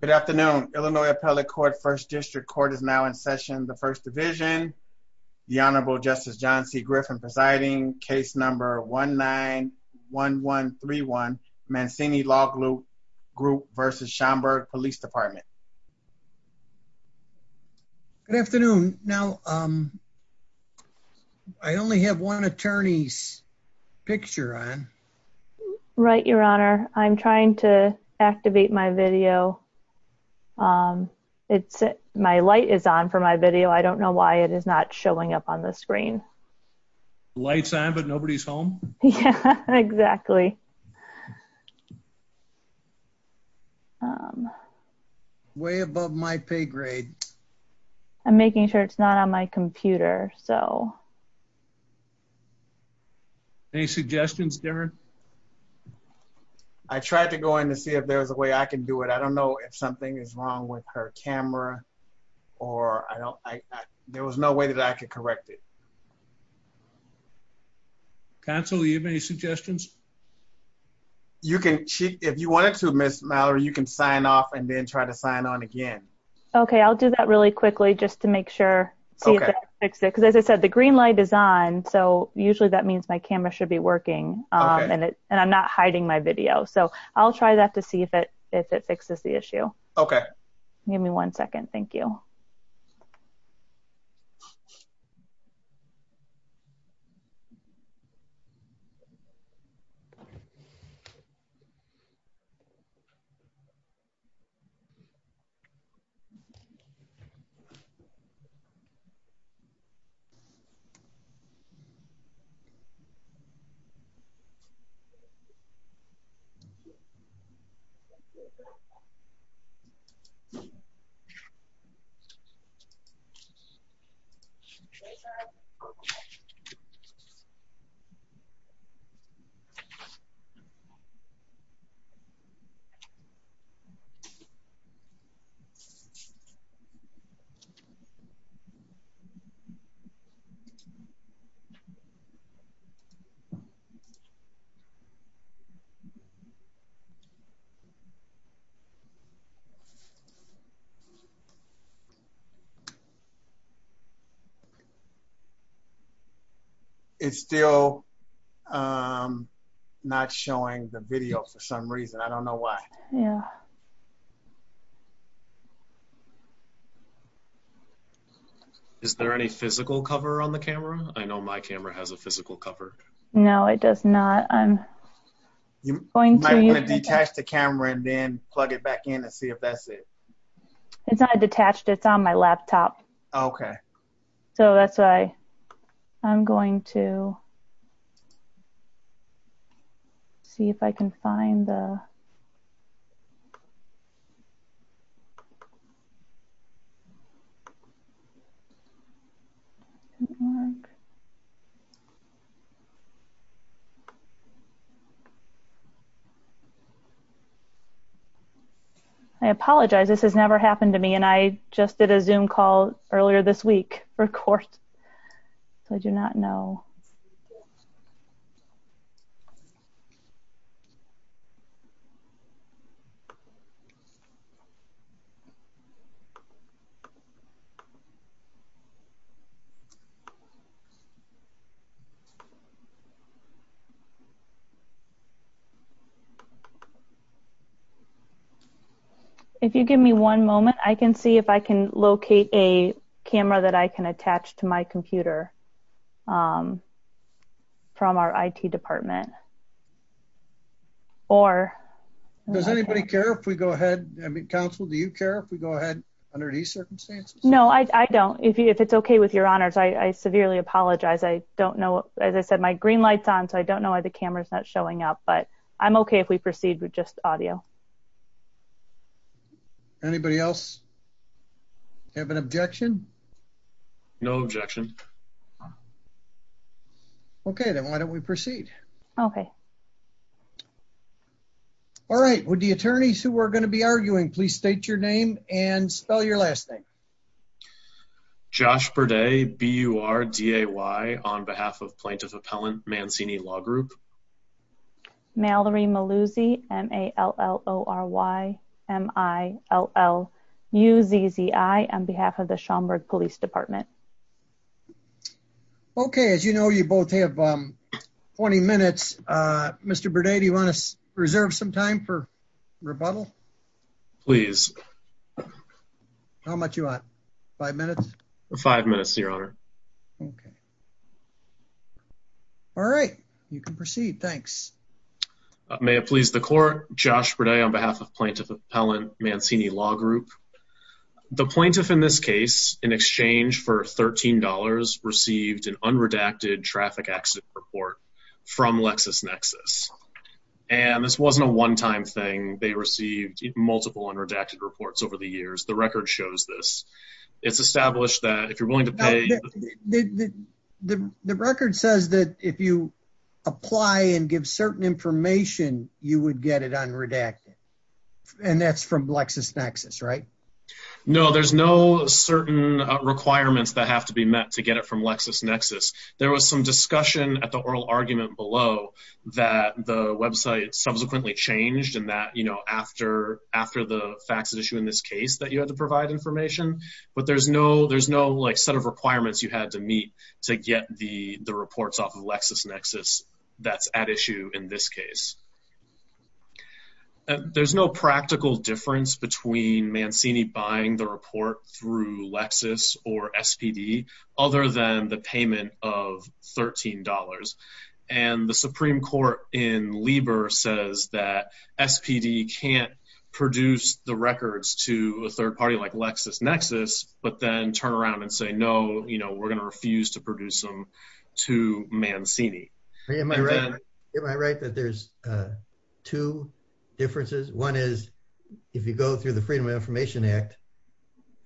Good afternoon. Illinois Appellate Court First District Court is now in session. The First Division, the Honorable Justice John C. Griffin presiding. Case number 1-9-1-1-3-1 Mancini Law Group versus Schomburg Police Department. Good afternoon. Now, I only have one attorney's picture on. Right, Your Honor. I'm trying to activate my video. It's, my light is on for my video. I don't know why it is not showing up on the screen. Light's on, but nobody's home? Yeah, exactly. Way above my pay grade. I'm making sure it's not on my computer, so. Any suggestions, Darren? I tried to go in to see if there was a way I could do it. I don't know if something is wrong with her camera, or I don't, there was no way that I could correct it. Counsel, do you have any suggestions? You can, if you wanted to, Ms. Mallory, you can sign off and then try to sign on again. Okay, I'll do that really quickly just to make sure. Okay. Because as I said, the green light is on, so usually that means my camera should be working, and I'm not hiding my video. So, I'll try that to see if it fixes the issue. Okay. Give me one second. Thank you. It's still not showing the video for some reason. I don't know why. Yeah. Is there any physical cover on the camera? I know my camera has a physical cover. No, it does not. I'm going to plug it back in and see if that's it. It's not detached, it's on my laptop. I apologize, this has never happened to me, and I just did a Zoom call earlier this week If you give me one moment, I can see if I can locate a camera that I can attach to my computer from our IT department. Does anybody care if we go ahead, I mean, Counsel, do you care if we go ahead under these circumstances? No, I don't. If it's okay with your honors, I severely apologize. I don't know, as I said, my green light's on, so I don't know why the audio. Anybody else have an objection? No objection. Okay, then why don't we proceed? Okay. All right, would the attorneys who are going to be arguing please state your name and spell your last name? Josh Burday, B-U-R-D-A-Y, on behalf of Plaintiff Appellant Mancini Law Group. Mallory Maluzzi, M-A-L-L-O-R-Y-M-I-L-L-U-Z-Z-I, on behalf of the Schaumburg Police Department. Okay, as you know, you both have 20 minutes. Mr. Burday, do you want to reserve some time for rebuttal? Please. How much you want? Five minutes? Five minutes, your honor. Okay. All right, you can proceed. Thanks. May it please the court? Josh Burday, on behalf of Plaintiff Appellant Mancini Law Group. The plaintiff in this case, in exchange for $13, received an unredacted traffic accident report from LexisNexis, and this wasn't a one-time thing. They received multiple unredacted reports over the years. The record shows this. It's established that if you're willing to pay... The record says that if you apply and give certain information, you would get it unredacted, and that's from LexisNexis, right? No, there's no certain requirements that have to be met to get it from LexisNexis. There was some discussion at the oral argument below that the website subsequently changed, and that, you know, after the fax issue in this case, that you had to provide information, but there's no, like, set of requirements you had to meet to get the reports off of LexisNexis that's at issue in this case. There's no practical difference between Mancini buying the report through Lexis or SPD other than the payment of $13, and the Supreme Court in LexisNexis, but then turn around and say, no, you know, we're gonna refuse to produce them to Mancini. Am I right that there's two differences? One is, if you go through the Freedom of Information Act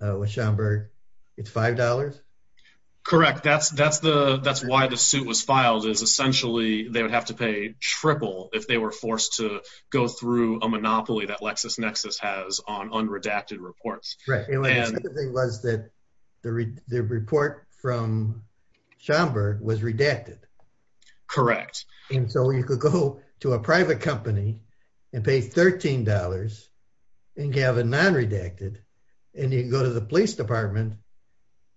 with Schomburg, it's $5? Correct. That's why the suit was filed, is essentially they would have to pay triple if they were forced to go through a monopoly that LexisNexis has on was that the report from Schomburg was redacted? Correct. And so you could go to a private company and pay $13 and have a non redacted, and you go to the police department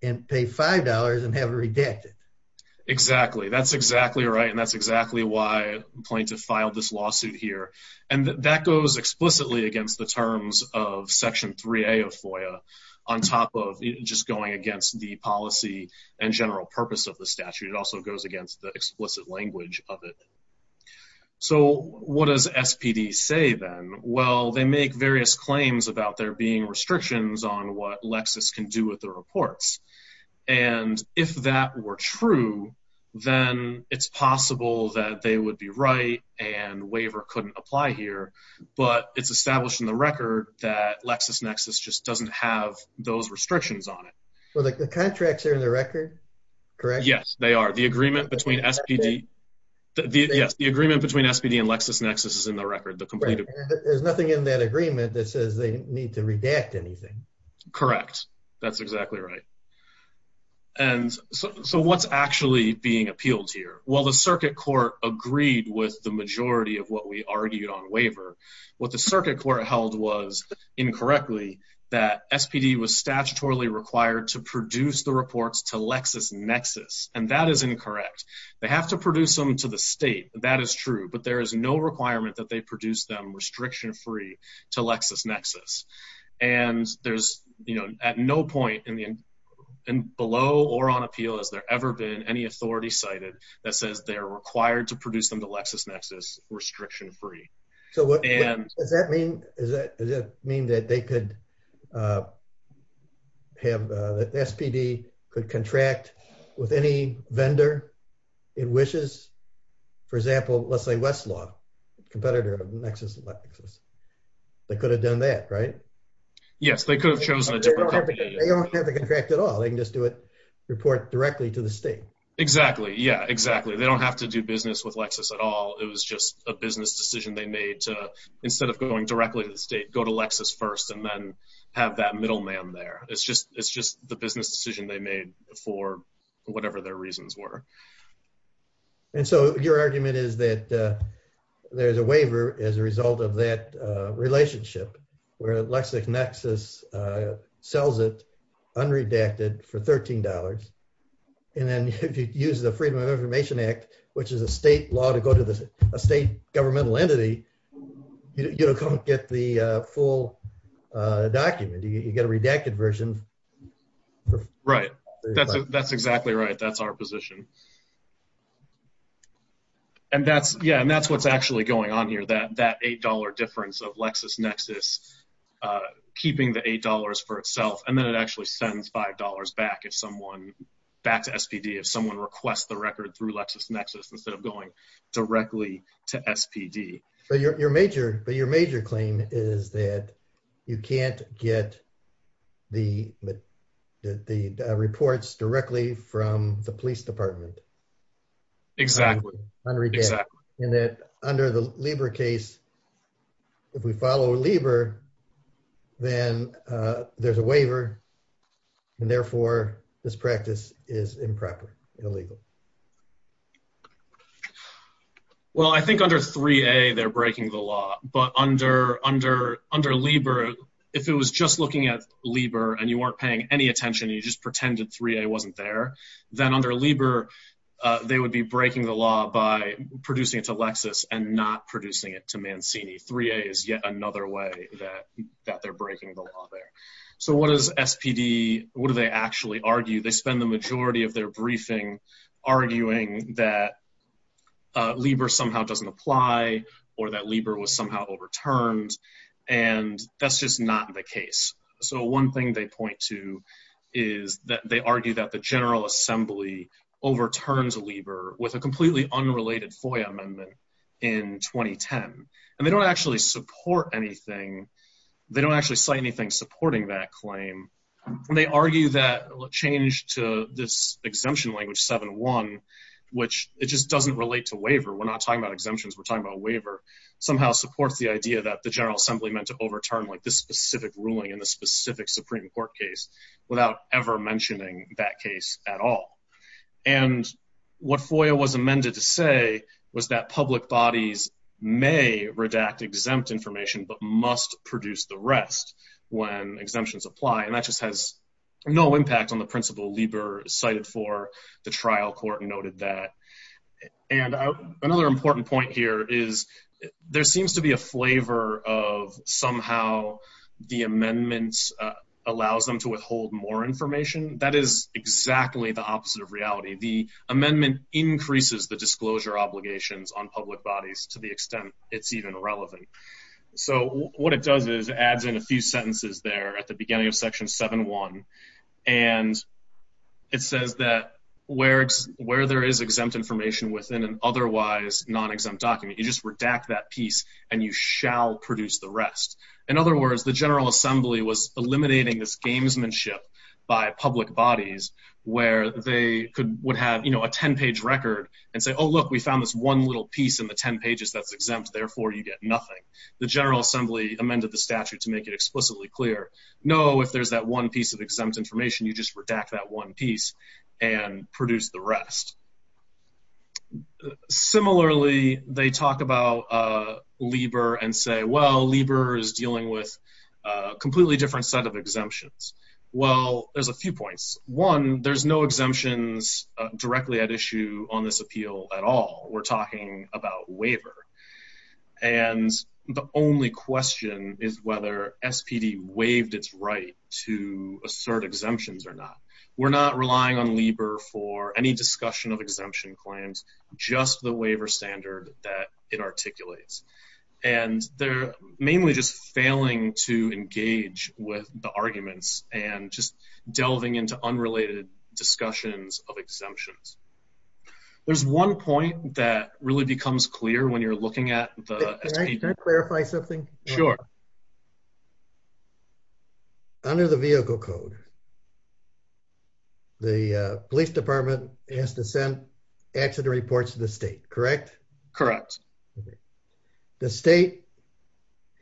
and pay $5 and have it redacted. Exactly. That's exactly right. And that's exactly why plaintiff filed this lawsuit here. And that goes explicitly against the terms of Section 3A of FOIA on top of just going against the policy and general purpose of the statute. It also goes against the explicit language of it. So what does SPD say then? Well, they make various claims about there being restrictions on what Lexis can do with the reports. And if that were true, then it's possible that they would be right and waiver couldn't apply here. But it's established in the record that LexisNexis just doesn't have those restrictions on it. Well, the contracts are in the record. Correct? Yes, they are. The agreement between SPD and LexisNexis is in the record. There's nothing in that agreement that says they need to redact anything. Correct. That's exactly right. And so what's actually being appealed here? Well, the circuit court agreed with the majority of what we argued on waiver. What the circuit court held was, incorrectly, that SPD was statutorily required to produce the reports to LexisNexis. And that is incorrect. They have to produce them to the state. That is true. But there is no requirement that they produce them restriction free to LexisNexis. And there's, you know, at no point in the, in below or on appeal, has there ever been any authority cited that says they're required to produce them to LexisNexis restriction free. So what does that mean? Does that mean that they could have the SPD could contract with any vendor it wishes? For Yes, they could have chosen a different contract at all. They can just do it report directly to the state. Exactly. Yeah, exactly. They don't have to do business with LexisNexis at all. It was just a business decision they made to instead of going directly to the state, go to LexisNexis first, and then have that middleman there. It's just it's just the business decision they made for whatever their reasons were. And so your argument is that there's a waiver as a result of that relationship, where LexisNexis sells it unredacted for $13. And then if you use the Freedom of Information Act, which is a state law to go to the state governmental entity, you don't get the full document, you get a redacted version. Right. That's, that's exactly right. That's our position. And that's, yeah, and that's what's actually going on here that that $8 difference of LexisNexis, keeping the $8 for itself, and then it actually sends $5 back if someone back to SPD if someone requests the record through LexisNexis instead of going directly to SPD. But your major, but your major claim is that you can't get the, the reports directly from the police department. Exactly. Unredacted. And that under the Lieber case, if we follow Lieber, then there's a waiver. And therefore, this practice is improper and illegal. Well, I think under 3A, they're breaking the law. But under, under, under Lieber, if it was just looking at Lieber, and you weren't paying any attention, you just pretended 3A wasn't there, then under Lieber, they would be breaking the law by producing it to Lexis and not producing it to Mancini. 3A is yet another way that, that they're breaking the law there. So what does SPD, what do they actually argue, they spend the majority of their briefing, arguing that Lieber somehow doesn't apply, or that Lieber was somehow overturned. And that's just not the case. So one thing they point to is that they argue that the General Assembly overturned Lieber with a completely unrelated FOIA amendment in 2010. And they don't actually support anything. They don't actually cite anything supporting that claim. They argue that change to this exemption language 7-1, which it just doesn't relate to waiver, we're not talking about exemptions, we're talking about waiver, somehow supports the idea that the General Assembly meant to overturn like this specific ruling in the specific Supreme Court case, without ever mentioning that case at all. And what FOIA was amended to say was that public bodies may redact exempt information, but must produce the rest when exemptions apply. And that just has no impact on the principle Lieber cited for the trial court noted that. And another important point here is, there seems to be a flavor of somehow, the amendments allows them to withhold more information. That is exactly the opposite of reality. The amendment increases the disclosure obligations on public bodies to the extent it's even relevant. So what it does is adds in a few sentences there at the beginning of section 7-1. And it says that where it's where there is exempt information within an otherwise non-exempt document, you just redact that piece, and you shall produce the rest. In other words, the General Assembly was eliminating this gamesmanship by public bodies, where they could would have, you know, a 10-page record and say, oh, look, we found this one little piece in the 10 pages that's exempt, therefore you get nothing. The General Assembly amended the statute to make it explicitly clear. No, if there's that one piece of exempt information, you just redact that one piece and produce the rest. Similarly, they talk about Lieber and say, well, Lieber is dealing with a completely different set of exemptions. Well, there's a few points. One, there's no exemptions directly at issue on this appeal at all. We're talking about waiver. And the only question is whether SPD waived its right to assert exemptions or not. We're not relying on Lieber for any discussion of exemption claims, just the waiver standard that it articulates. And they're mainly just failing to engage with the arguments and just delving into unrelated discussions of exemptions. There's one point that really becomes clear when you're looking at the clarify something. Sure. Under the vehicle code, the police department has to send accident reports to the state, correct? Correct. The state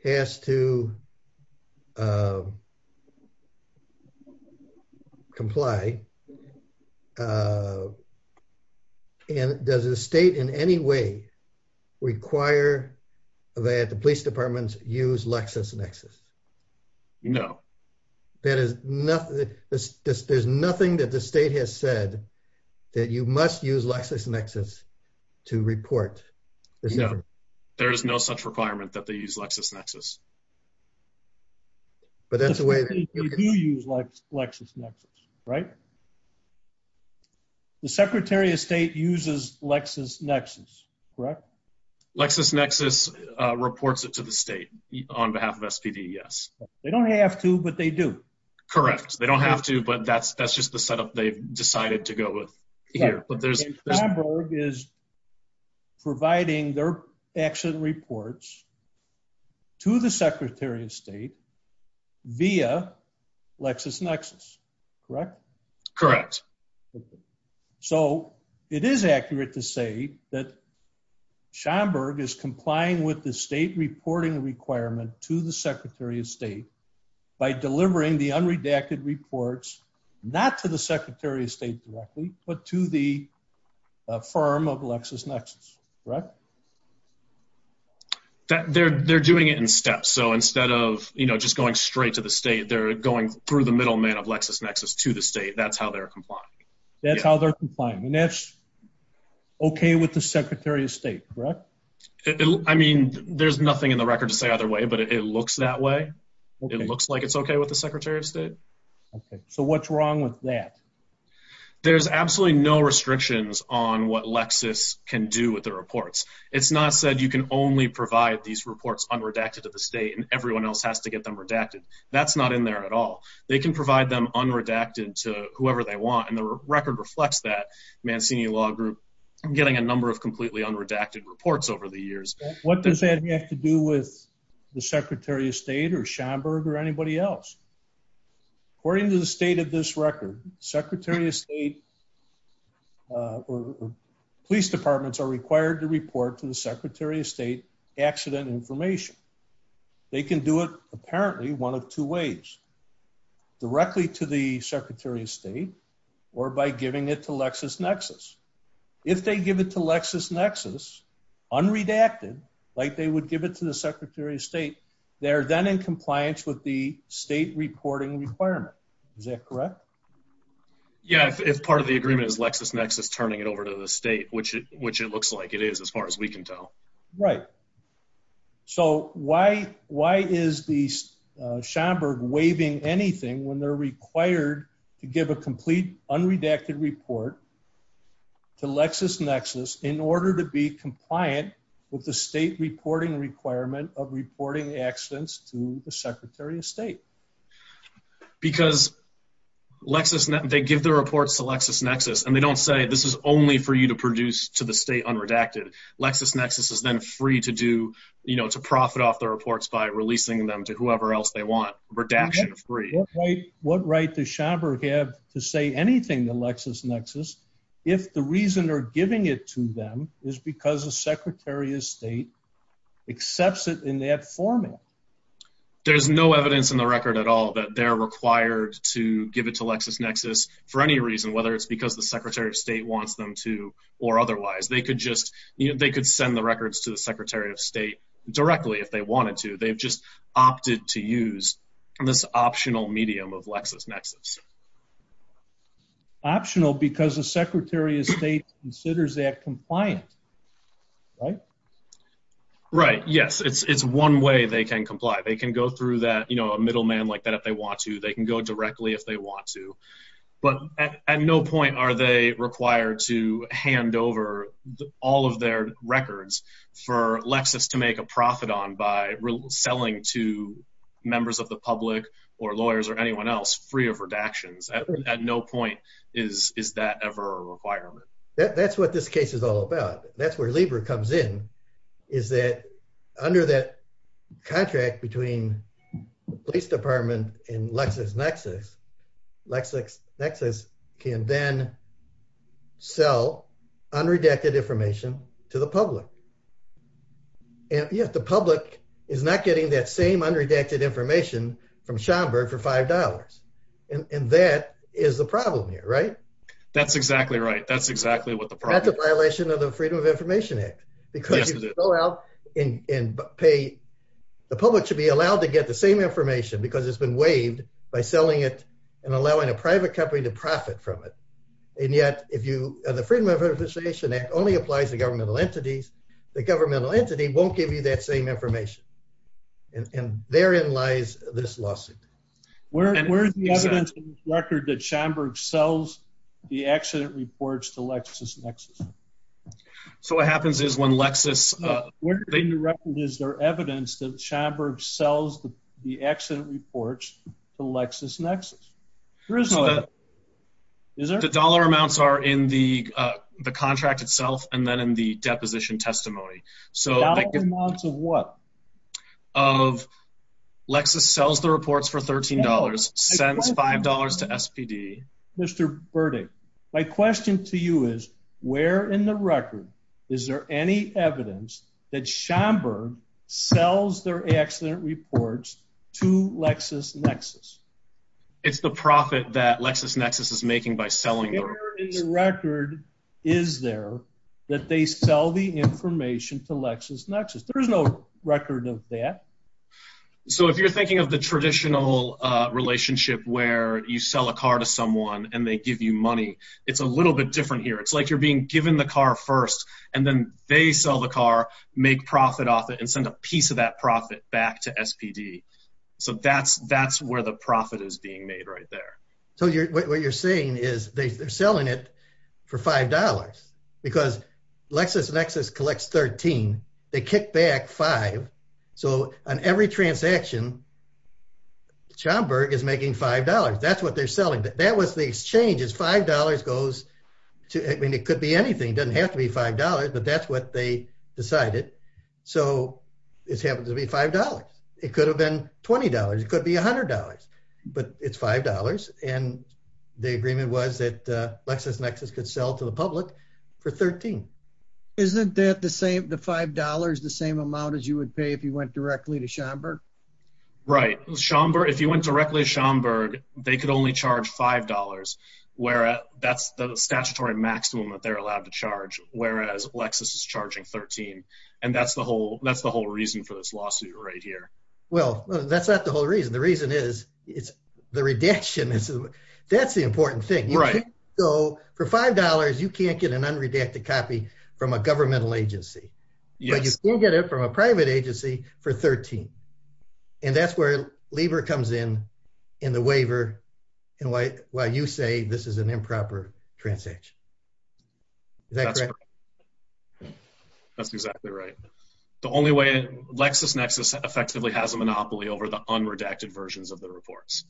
has to comply. And does the state in any way require that the police departments use LexisNexis? No. There's nothing that the state has said that you must use LexisNexis to report. There's no such requirement that they use LexisNexis. But that's the way you use LexisNexis, right? The secretary of state uses LexisNexis, correct? LexisNexis reports it to the state on behalf of SPD, yes. They don't have to, but they do. Correct. They don't have to, but that's just the setup they've decided to go with here. Schomburg is providing their accident reports to the secretary of state via LexisNexis, correct? Correct. So it is accurate to say that Schomburg is complying with the state reporting requirement to the secretary of state by delivering the unredacted reports, not to the secretary of state directly, but to the firm of LexisNexis, correct? They're doing it in steps. So instead of just going straight to the state, they're going through the middleman of LexisNexis to the state. That's how they're complying. That's how they're complying. And that's okay with the secretary of state, correct? I mean, there's nothing in the record to say either way, but it looks that way. It looks like it's okay with the secretary of state. So what's wrong with that? There's absolutely no restrictions on what Lexis can do with the reports. It's not said you can only provide these reports unredacted to the state and everyone else has to get them redacted. That's not in there at all. They can provide them unredacted to whoever they want. And the What does that have to do with the secretary of state or Schomburg or anybody else? According to the state of this record, secretary of state or police departments are required to report to the secretary of state accident information. They can do it apparently one of two ways, directly to the secretary of state or by giving it to LexisNexis. If they give it to unredacted, like they would give it to the secretary of state, they're then in compliance with the state reporting requirement. Is that correct? Yeah, if part of the agreement is Lexis Nexus turning it over to the state, which it looks like it is as far as we can tell. Right. So why is the Schomburg waiving anything when they're required to give a complete unredacted report to LexisNexis in order to be compliant with the state reporting requirement of reporting accidents to the secretary of state? Because LexisNexis, they give the reports to LexisNexis. And they don't say this is only for you to produce to the state unredacted. LexisNexis is then free to do, you know, to profit off the reports by releasing them to LexisNexis if the reason they're giving it to them is because the secretary of state accepts it in that format. There's no evidence in the record at all that they're required to give it to LexisNexis for any reason, whether it's because the secretary of state wants them to or otherwise, they could just, you know, they could send the records to the secretary of state directly if they wanted to. They've just opted to use this optional medium of LexisNexis. Optional because the secretary of state considers that compliant, right? Right. Yes, it's one way they can comply. They can go through that, you know, a middleman like that if they want to, they can go directly if they want to. But at no point are they required to hand over all of their records for Lexis to make a profit on by selling to members of the public. Is that ever a requirement? That's what this case is all about. That's where Libra comes in is that under that contract between the police department and LexisNexis, LexisNexis can then sell unredacted information to the public. And yet the public is not getting that same That's exactly right. That's exactly what the problem is. That's a violation of the Freedom of Information Act. Because you go out and pay, the public should be allowed to get the same information because it's been waived by selling it and allowing a private company to profit from it. And yet if you, the Freedom of Information Act only applies to governmental entities, the governmental entity won't give you that same information. And therein lies this The dollar amounts are in the contract itself and then in the deposition testimony. The dollar amounts of what? Of Lexis sells the reports for $13, sends $5 to SPD. Mr. Burdick, my question to you is, where in the record is there any evidence that Schomburg sells their accident reports to LexisNexis? It's the profit that LexisNexis is selling. Where in the record is there that they sell the information to LexisNexis? There's no record of that. So if you're thinking of the traditional relationship where you sell a car to someone and they give you money, it's a little bit different here. It's like you're being given the car first and then they sell the car, make profit off it and send a piece of that profit back to SPD. So that's where the profit is being made right there. So what you're saying is they're selling it for $5 because LexisNexis collects $13, they kick back $5. So on every transaction, Schomburg is making $5. That's what they're selling. That was the exchange is $5 goes to, I mean, it could be anything, doesn't have to be $5, but that's what they decided. So it's happened to be $5. It could have been $20, it could be $100, but it's $5. And the agreement was that LexisNexis could sell to the public for $13. Isn't that the same, the $5, the same amount as you would pay if you went directly to Schomburg? Right. Schomburg, if you went directly to Schomburg, they could only charge $5 where that's the statutory maximum that they're allowed to charge. Whereas LexisNexis is charging $13. And that's the whole reason for this lawsuit right here. Well, that's not the whole reason. The reason is it's the redaction. That's the important thing. So for $5, you can't get an unredacted copy from a governmental agency, but you can get it from a private agency for $13. And that's where Lieber comes in, in the waiver, and why you say this is an improper transaction. Is that correct? That's exactly right. The only way, LexisNexis effectively has a monopoly over the unredacted versions of the reports.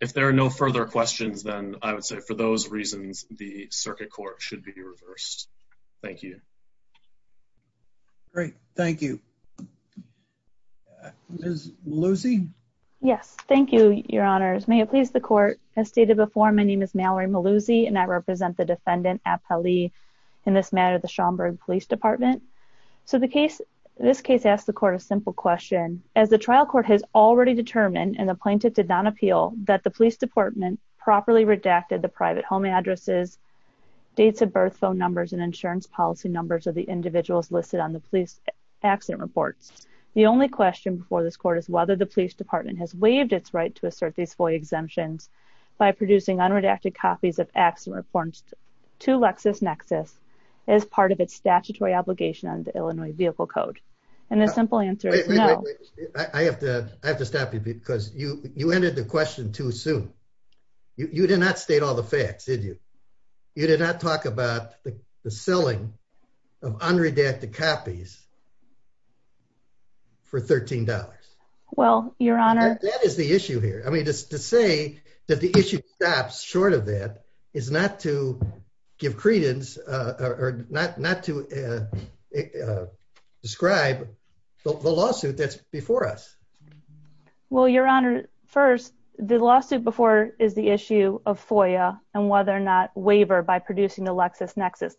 If there are no further questions, then I would say for those reasons, the circuit court should be reversed. Thank you. Great. Thank you. Ms. Malluzzi? Yes. Thank you, Your Honors. May it please the court, as stated before, my name is Mallory Malluzzi, and I represent the defendant, Appa Lee, in this matter, the Schomburg Police Department. So the case, this case asks the court a simple question. As the trial court has already determined, and the plaintiff did not appeal, that the police department properly redacted the private home addresses, dates of birth, phone numbers, and insurance policy numbers of the individuals listed on the police accident reports. The only question before this court is whether the police department has waived its right to assert these FOIA exemptions by producing unredacted copies of accident reports to LexisNexis as part of its statutory obligation under the Illinois Vehicle Code. And the simple answer is no. I have to, I have to stop you because you, you entered the question too soon. You did not state all the facts, did you? You did not talk about the selling of unredacted copies for $13. Well, Your Honor. That is the issue here. I mean, to say that the issue stops short of that is not to give credence or not, not to describe the lawsuit that's before us. Well, Your Honor, first, the lawsuit before is the issue of FOIA and whether or not waiver by producing the LexisNexis.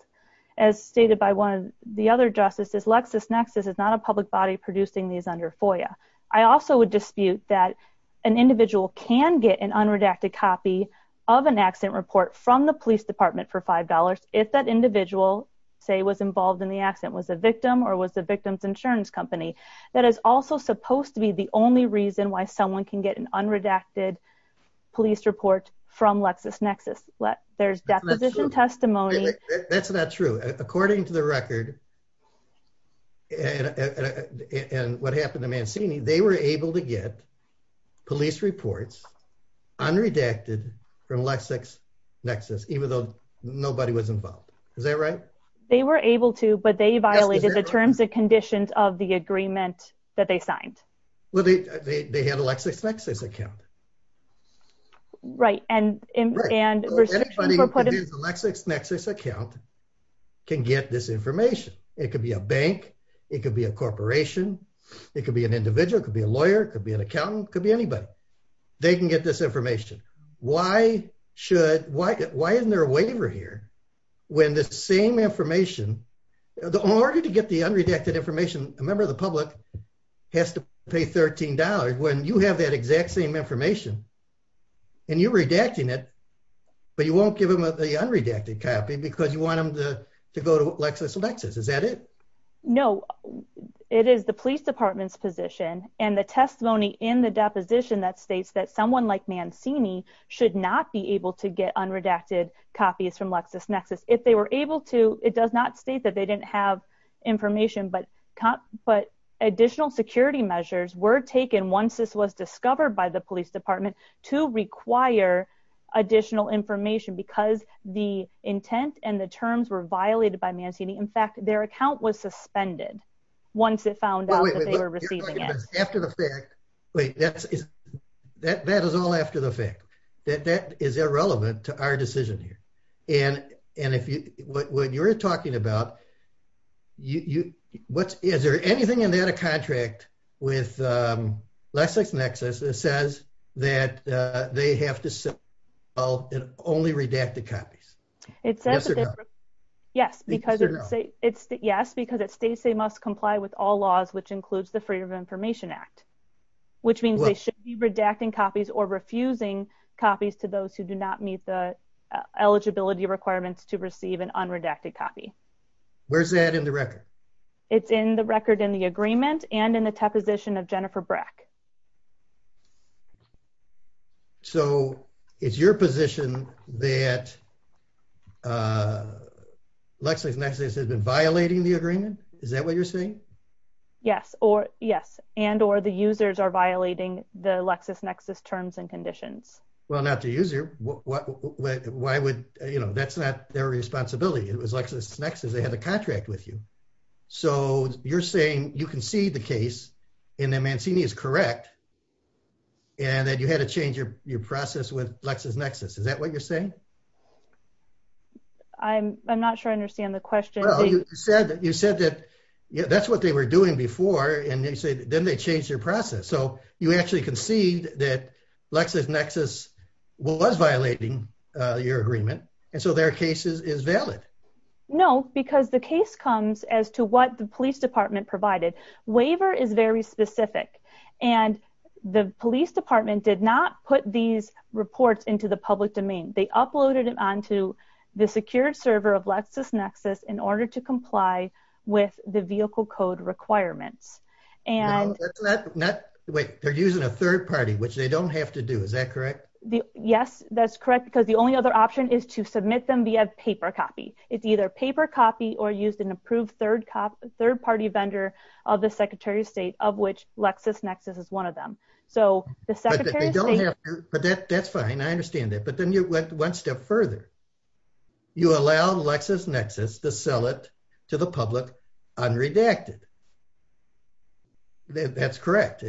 As stated by one of the other justices, LexisNexis is not a public body producing these under FOIA. I also would dispute that an individual can get an unredacted copy of an accident report from the police department for $5 if that individual, say, was involved in the accident, was a victim or was the victim's insurance company. That is also supposed to be the only reason why someone can get an unredacted police report from LexisNexis. There's deposition testimony. That's not true. According to the record and what happened to Mancini, they were able to get police reports unredacted from LexisNexis, even though nobody was involved. Is that right? They were able to, but they violated the terms and conditions of the agreement that they signed. Well, they had a LexisNexis account. Right. And, and LexisNexis account can get this information. It could be a bank. It could be a corporation. It could be an individual. It could be a lawyer. It could be an accountant. It could be anybody. They can get this information. Why should, why, why isn't there a waiver here when the same information, in order to get the unredacted information, a member of the public has to pay $13 when you have that exact same information and you're redacting it, but you won't give them the unredacted copy because you want them to, to go to LexisNexis. Is that it? No, it is the police department's position and the testimony in the deposition that states that someone like Mancini should not be able to get unredacted copies from LexisNexis. If they were able to, it does not state that they didn't have information, but, but additional security measures were taken once this was discovered by the police department to require additional information because the intent and the terms were violated by Mancini. In fact, their account was suspended once it found out that they were receiving it. After the fact, wait, that's, that, that is all after the fact that that is irrelevant to our decision here. And, and if you, what you're talking about, you, what's, is there anything in that a contract with LexisNexis that says that they have to sell only redacted copies? It says, yes, because it's, yes, because it states they must comply with all laws, which includes the Freedom of Information Act, which means they should be redacting copies or refusing copies to those who do not meet the eligibility requirements to receive an unredacted copy. Where's that in the record? It's in the record in the agreement and in the deposition of Jennifer Brack. So it's your position that LexisNexis has been violating the agreement? Is that what you're saying? Yes, or yes. And, or the users are violating the LexisNexis terms and conditions. Well, not the user. Why would, you know, that's not their responsibility. It was LexisNexis, they have a contract with you. So you're saying you concede the case and that Mancini is correct and that you had to change your, your process with LexisNexis. Is that what you're saying? I'm, I'm not sure I understand the question. Well, you said that, you said that, yeah, that's what they were doing before. And they said, then they changed their process. So you actually conceded that LexisNexis was violating your agreement. And so their case is valid. No, because the case comes as to what the police department provided. Waiver is very specific. And the police department did not put these reports into the public domain. They uploaded it onto the secured server of LexisNexis in order to comply with the vehicle code requirements. And that's not, wait, they're using a third party, which they don't have to do. Is that correct? Yes, that's correct. Because the only other option is to submit them via paper copy. It's either paper copy or used an approved third cop, third party vendor of the secretary of state of which LexisNexis is one of them. So the secretary. But that that's fine. I understand that. But then you went one step further. You allow LexisNexis to sell it to the public unredacted. That's correct.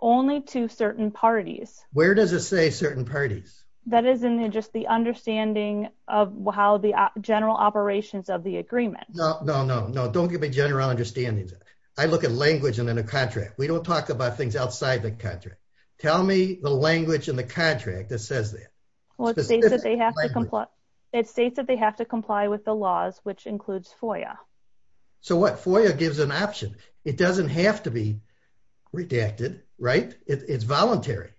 Only to certain parties. Where does it say certain parties? That is in just the understanding of how the general operations of the agreement. No, no, no, no. Don't give me general understandings. I look at language and then a contract. We don't talk about things outside the contract. Tell me the language in the contract that says that. Well, it states that they have to comply with the laws, which includes FOIA. So what? FOIA gives an option. It doesn't have to be redacted. Right. It's voluntary.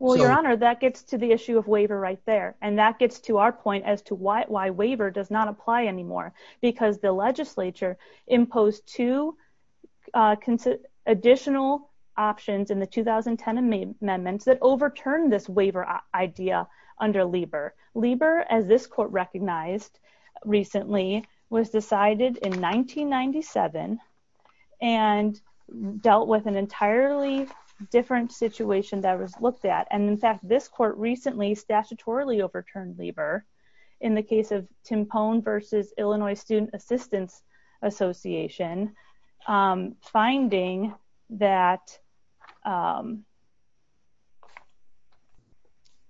Well, your honor, that gets to the issue of waiver right there. And that gets to our point as to why waiver does not apply anymore, because the legislature imposed two additional options in the 2010 amendments that overturned this waiver idea under Lieber. Lieber, as this court recognized recently, was decided in 1997 and dealt with an entirely different situation that was looked at. And in fact, this court recently statutorily overturned Lieber in the case of Timpone versus Illinois Student Assistance Association, finding that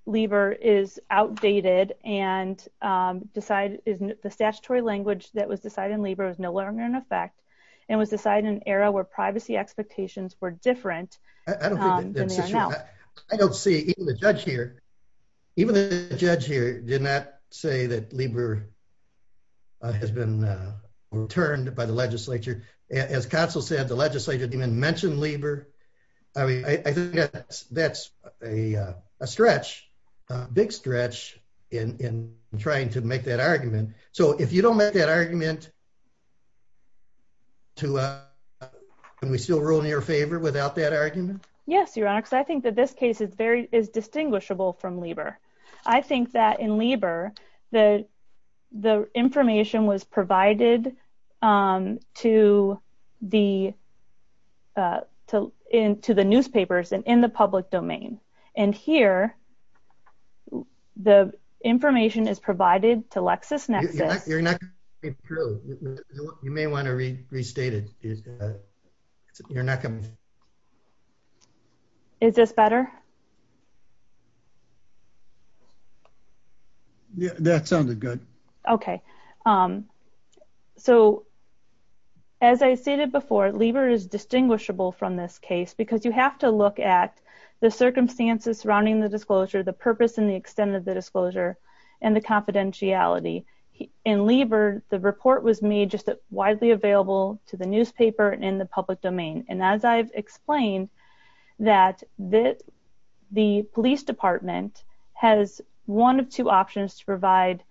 Lieber is outdated and the statutory language that was decided in Lieber is no longer in effect and was decided in an era where privacy expectations were different than they are now. I don't see even the judge here. Even the judge here did not say that Lieber has been overturned by the legislature. As counsel said, the legislature didn't even mention Lieber. I mean, I think that's a stretch, a big stretch in trying to make that argument. So if you don't make that argument, can we still rule in your favor without that argument? Yes, your honor, because I think that this case is very, is distinguishable from Lieber. I think that in Lieber, the information was provided to the newspapers and in the public domain. And here, the information is provided to LexisNexis. You may want to restate it. Is this better? Yeah, that sounded good. Okay. So as I stated before, Lieber is distinguishable from this case because you have to look at the circumstances surrounding the disclosure, the purpose and the extent of the disclosure and the confidentiality. In Lieber, the report was made just widely available to the newspaper and in the public domain. And as I've explained, that the police department has one of two options to provide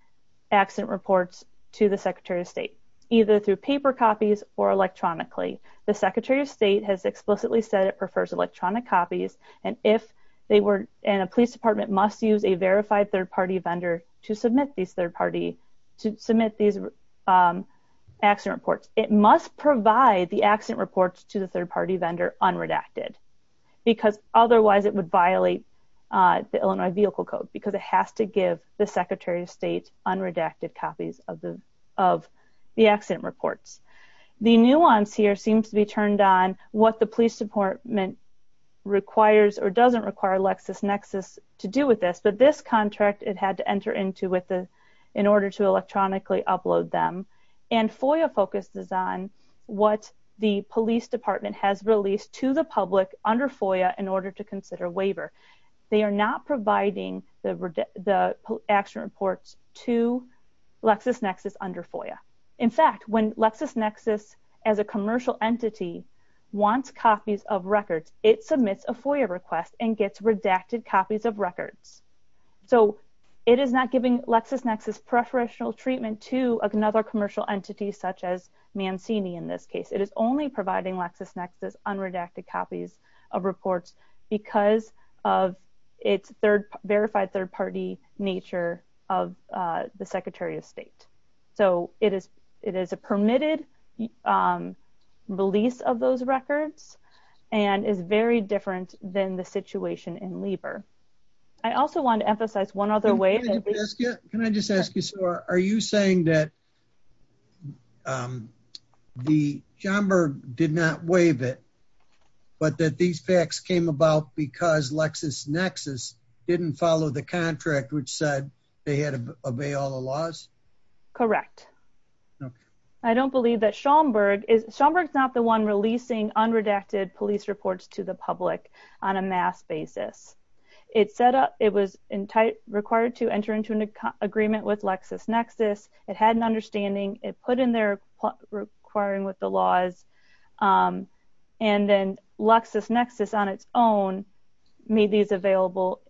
accident reports to the secretary of state, either through paper copies or electronically. The secretary of state has explicitly said it prefers electronic copies. And if they were, and a police department must use a verified third party vendor to submit these third party, to submit these accident reports, it must provide the accident reports to the third party vendor unredacted, because otherwise it would violate the Illinois Vehicle Code because it has to give the secretary of state unredacted copies of the accident reports. The nuance here seems to be turned on what the police department requires or doesn't require LexisNexis to do with this. This contract it had to enter into with the, in order to electronically upload them and FOIA focuses on what the police department has released to the public under FOIA in order to consider waiver. They are not providing the accident reports to LexisNexis under FOIA. In fact, when LexisNexis as a commercial entity wants copies of records, it submits a FOIA request and gets redacted copies of records. So it is not giving LexisNexis preferential treatment to another commercial entity such as Mancini in this case. It is only providing LexisNexis unredacted copies of reports because of its verified third party nature of the secretary of state. So it is, it is a permitted release of those records and is very different than the situation in Lieber. I also want to emphasize one other way. Can I just ask you, so are you saying that the Jomberg did not waive it, but that these facts came about because LexisNexis didn't follow the contract which said they had to obey all the laws? Correct. I don't believe that Jomberg is, Jomberg's not the one releasing unredacted police reports to the public on a mass basis. It said it was required to enter into an agreement with LexisNexis. It had an understanding. It put in requiring with the laws and then LexisNexis on its own made these available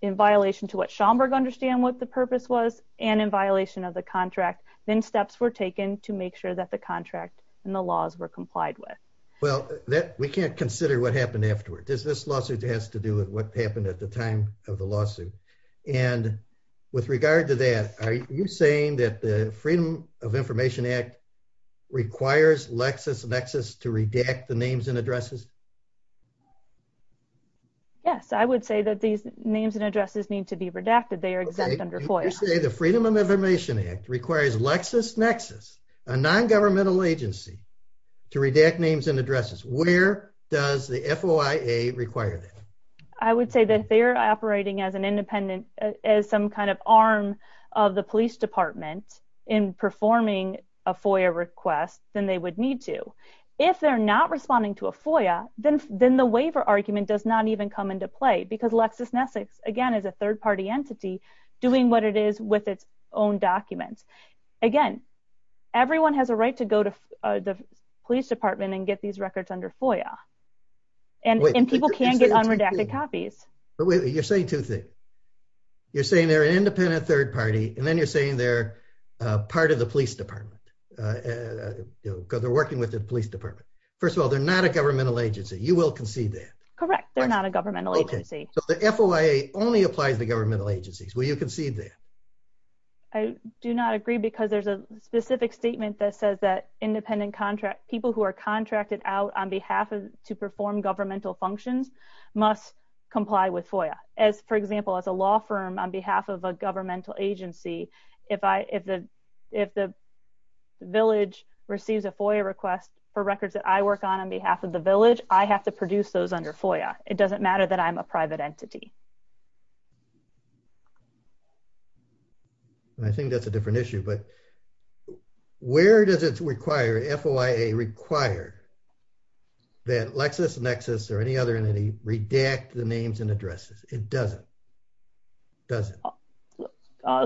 in violation to what Jomberg understand what the purpose was and in violation of the contract. Then steps were taken to make sure that the contract and the laws were complied with. Well that we can't consider what happened afterward. This lawsuit has to do with what happened at the time of the lawsuit and with regard to that, are you saying that the Freedom of Information Act requires LexisNexis to redact the names and addresses? Yes, I would say that these names and addresses need to be redacted. They are exempt under FOIA. You say the Freedom of Information Act requires LexisNexis, a non-governmental agency, to redact names and addresses. Where does the FOIA require that? I would say that they're operating as some kind of arm of the police department in performing a FOIA request than they would need to. If they're not responding to a FOIA, then the waiver argument does not even come into play because LexisNexis, again, is a third-party entity doing what it is with its own documents. Again, everyone has a right to go to the police department and get these records under FOIA. People can get unredacted copies. You're saying two things. You're saying they're an independent third party and then you're saying they're part of the police department because they're working with the police department. First of all, they're not a governmental agency. You will concede that. Correct. They're not a governmental agency. The FOIA only applies to governmental agencies. Will you concede that? I do not agree because there's a specific statement that says that people who are contracted out on behalf of to perform governmental functions must comply with FOIA. For example, as a law firm on behalf of a governmental agency, if the village receives a FOIA request for records that I work on on behalf of the village, I have to produce those under FOIA. It doesn't matter that I'm a private entity. I think that's a different issue. But where does FOIA require that LexisNexis or any other entity redact the names and addresses? It doesn't. I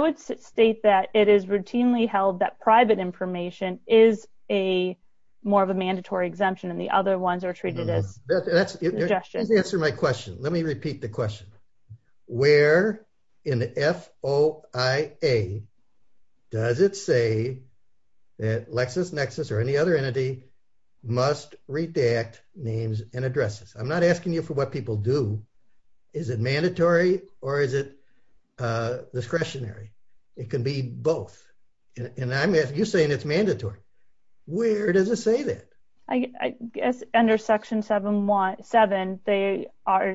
would state that it is routinely held that private information is more of a mandatory exemption and the other ones are treated as suggestions. Let me repeat the question. Where in the FOIA does it say that LexisNexis or any other entity must redact names and addresses? I'm not asking you for what people do. Is it mandatory or is it discretionary? It can be both. You're saying it's mandatory. Where does it say that? I guess under section 7.1.7,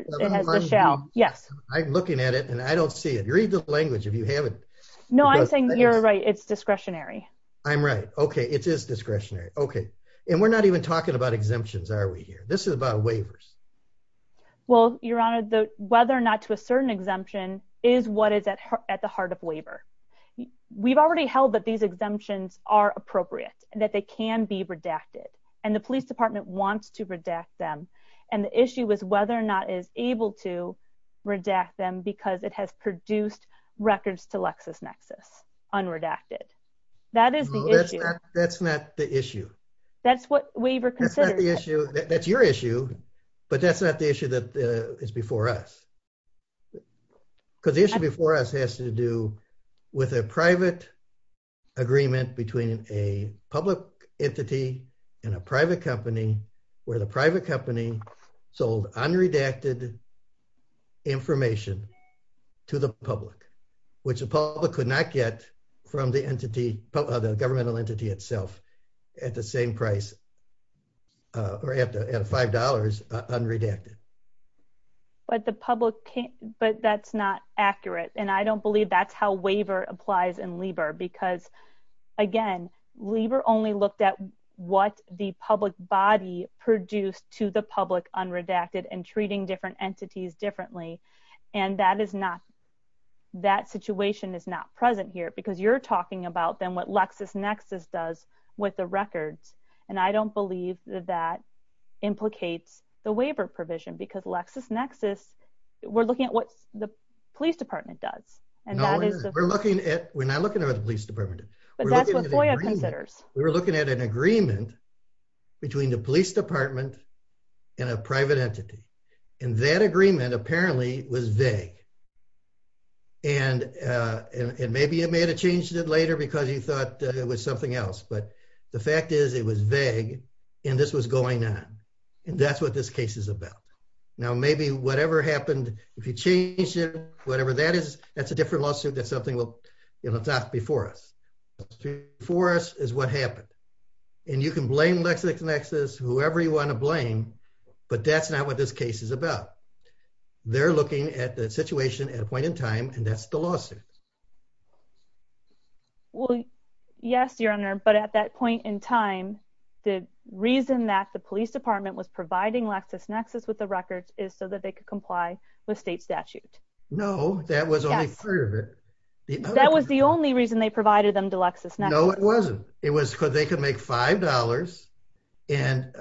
it has the shell. Yes. I'm looking at it and I don't see it. Read the language if you haven't. No, I'm saying you're right. It's discretionary. I'm right. Okay. It is discretionary. Okay. And we're not even talking about exemptions, are we here? This is about waivers. Well, your honor, whether or not to a certain exemption is what is at the heart of waiver. We've already held that these exemptions are appropriate and that they can be redacted. The police department wants to redact them. The issue is whether or not it is able to redact them because it has produced records to LexisNexis unredacted. That is the issue. That's not the issue. That's your issue, but that's not the issue that is before us. The issue before us has to do with a private agreement between a public entity and a private company where the private company sold unredacted information to the public, which the public could not get from the governmental entity itself at the same price or at $5 unredacted. But the public can't, but that's not accurate. And I don't believe that's how waiver applies in Lieber because again, Lieber only looked at what the public body produced to the public unredacted and treating different entities differently. And that is not, that situation is not present here because you're talking about then what LexisNexis does with the records. And I don't believe that implicates the waiver provision because LexisNexis, we're looking at what the police department does. We're looking at, we're not looking at the police department. We were looking at an agreement between the police department and a private entity. And that agreement apparently was vague. And maybe it may have changed it later because you thought it was something else. But the fact is it was vague and this was going on. And that's what this case is about. Now, maybe whatever happened, if you change it, whatever that is, that's a different lawsuit. That's something we'll talk before us. Before us is what happened. And you can blame LexisNexis, whoever you want to blame, but that's not what this case is about. They're looking at the situation at a point in time, and that's the lawsuit. Well, yes, your honor. But at that point in time, the reason that the police department was providing LexisNexis with the records is so that they could comply with state statute. No, that was only part of it. That was the only reason they provided them to LexisNexis. No, it wasn't. It was because they could make $5 and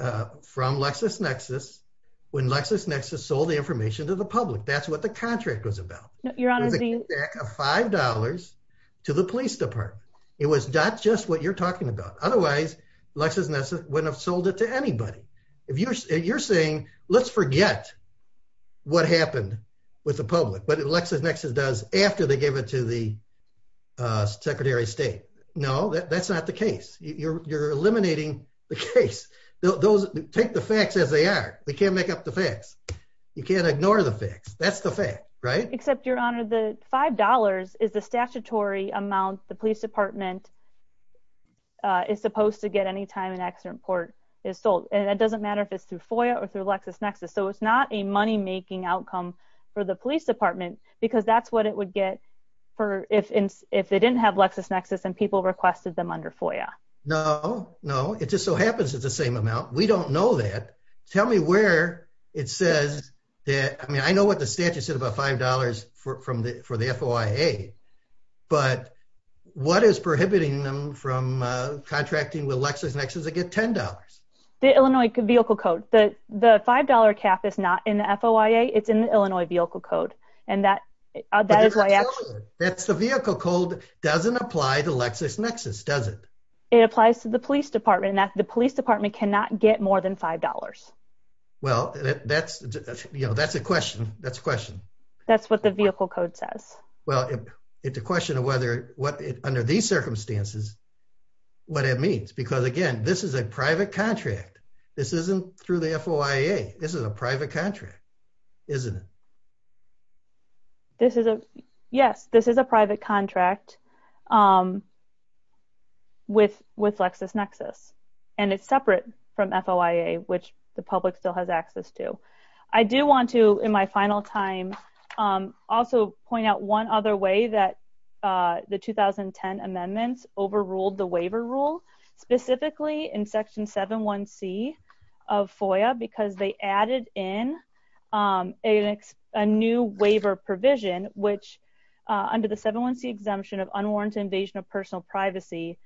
from LexisNexis, when LexisNexis sold the information to the public, that's what the contract was about. No, your honor. It was a kickback of $5 to the police department. It was not just what you're talking about. Otherwise, LexisNexis wouldn't have sold it to anybody. You're saying, let's forget what happened with the public, but LexisNexis does after they give it to the secretary of state. No, that's not the case. You're eliminating the case. Take the facts as they are. We can't make up the facts. You can't ignore the facts. That's the fact, right? Except your honor, the $5 is the statutory amount the police department is supposed to get anytime an accident report is sold. It doesn't matter if it's through FOIA or through LexisNexis. It's not a money-making outcome for the police department because that's what it would get if they didn't have LexisNexis and people requested them under FOIA. No, no. It just so happens it's the same amount. We don't know that. Tell me where it says that, I mean, I know what the statute said about $5 for the FOIA, but what is prohibited from contracting with LexisNexis to get $10? The Illinois Vehicle Code. The $5 cap is not in the FOIA. It's in the Illinois Vehicle Code. That's the vehicle code. Doesn't apply to LexisNexis, does it? It applies to the police department. The police department cannot get more than $5. Well, that's a question. That's what the vehicle code says. Well, it's a question of what, under these circumstances, what it means. Because again, this is a private contract. This isn't through the FOIA. This is a private contract, isn't it? Yes, this is a private contract with LexisNexis, and it's separate from FOIA, which the public still has access to. I do want to, in my final time, also point out one other way that the 2010 amendments overruled the waiver rule, specifically in Section 7.1.c of FOIA, because they added in a new waiver provision, which, under the 7.1.c exemption of unwarranted invasion of personal privacy,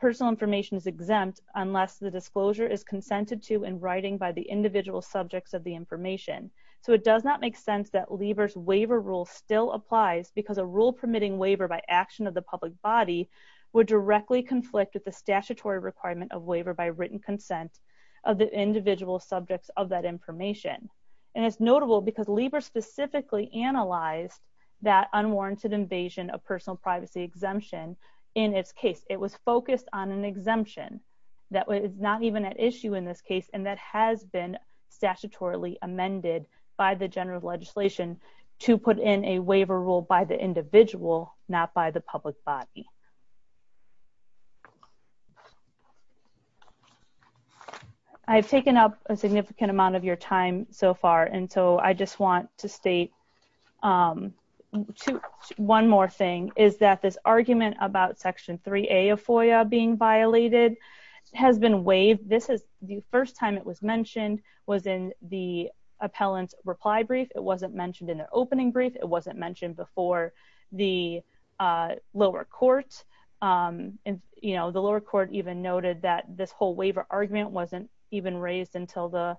personal information is exempt unless the disclosure is consented to in writing by the individual subjects of the information. So, it does not make sense that Lieber's waiver rule still applies because a rule permitting waiver by action of the public body would directly conflict with the statutory requirement of waiver by written consent of the individual subjects of that information. And it's notable because Lieber specifically analyzed that unwarranted invasion of personal privacy exemption in its case. It was focused on an exemption that is not even at issue in this case and that has been statutorily amended by the general legislation to put in a waiver rule by the individual, not by the public body. I've taken up a significant amount of your time so far, and so I just want to state one more thing, is that this argument about Section 3a of FOIA being violated has been waived. The first time it was mentioned was in the appellant's reply brief. It wasn't mentioned in the opening brief. It wasn't mentioned before the lower court. The lower court even noted that this whole waiver argument wasn't even raised until the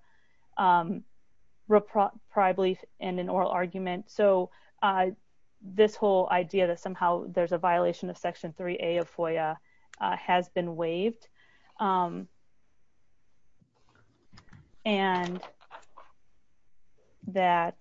prior brief and an oral argument. So this whole idea that somehow there's a violation of Section 3a of FOIA has been waived. And that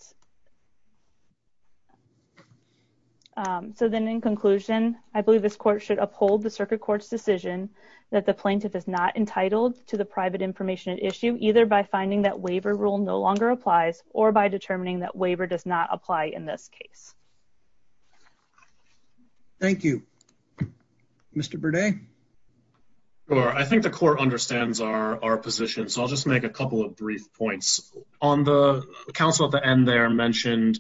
so then in conclusion, I believe this court should uphold the circuit court's decision that the plaintiff is not entitled to the private information at by finding that waiver rule no longer applies or by determining that waiver does not apply in this case. Thank you. Mr. Burdett? I think the court understands our position, so I'll just make a couple of brief points. The counsel at the end there mentioned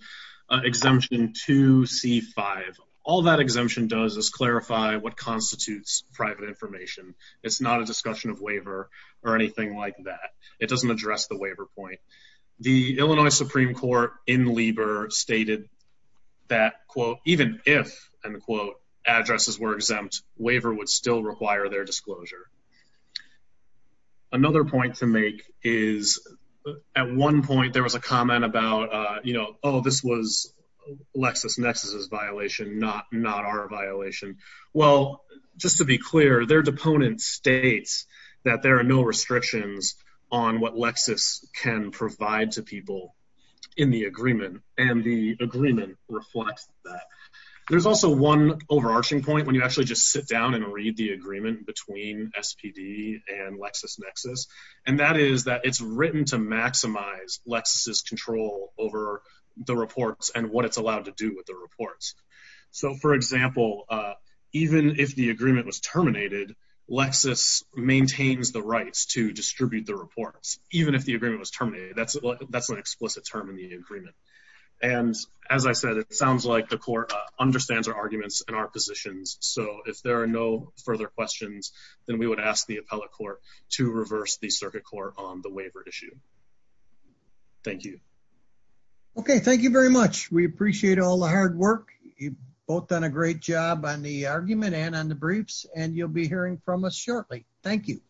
Exemption 2c5. All that exemption does is clarify what constitutes private information. It's not a discussion of waiver or anything like that. It doesn't address the waiver point. The Illinois Supreme Court in Lieber stated that, quote, even if, end quote, addresses were exempt, waiver would still require their disclosure. Another point to make is at one point there was a comment about, you know, oh, this was LexisNexis' violation, not our violation. Well, just to be clear, their no restrictions on what Lexis can provide to people in the agreement, and the agreement reflects that. There's also one overarching point when you actually just sit down and read the agreement between SPD and LexisNexis, and that is that it's written to maximize Lexis' control over the reports and what it's allowed to do with the reports. So, for example, even if the agreement was terminated, Lexis maintains the rights to distribute the reports, even if the agreement was terminated. That's an explicit term in the agreement. And as I said, it sounds like the court understands our arguments and our positions. So, if there are no further questions, then we would ask the appellate court to reverse the circuit court on the waiver issue. Thank you. Okay, thank you very much. We appreciate all the hard work. You've both done a great job on the argument and the briefs, and you'll be hearing from us shortly. Thank you.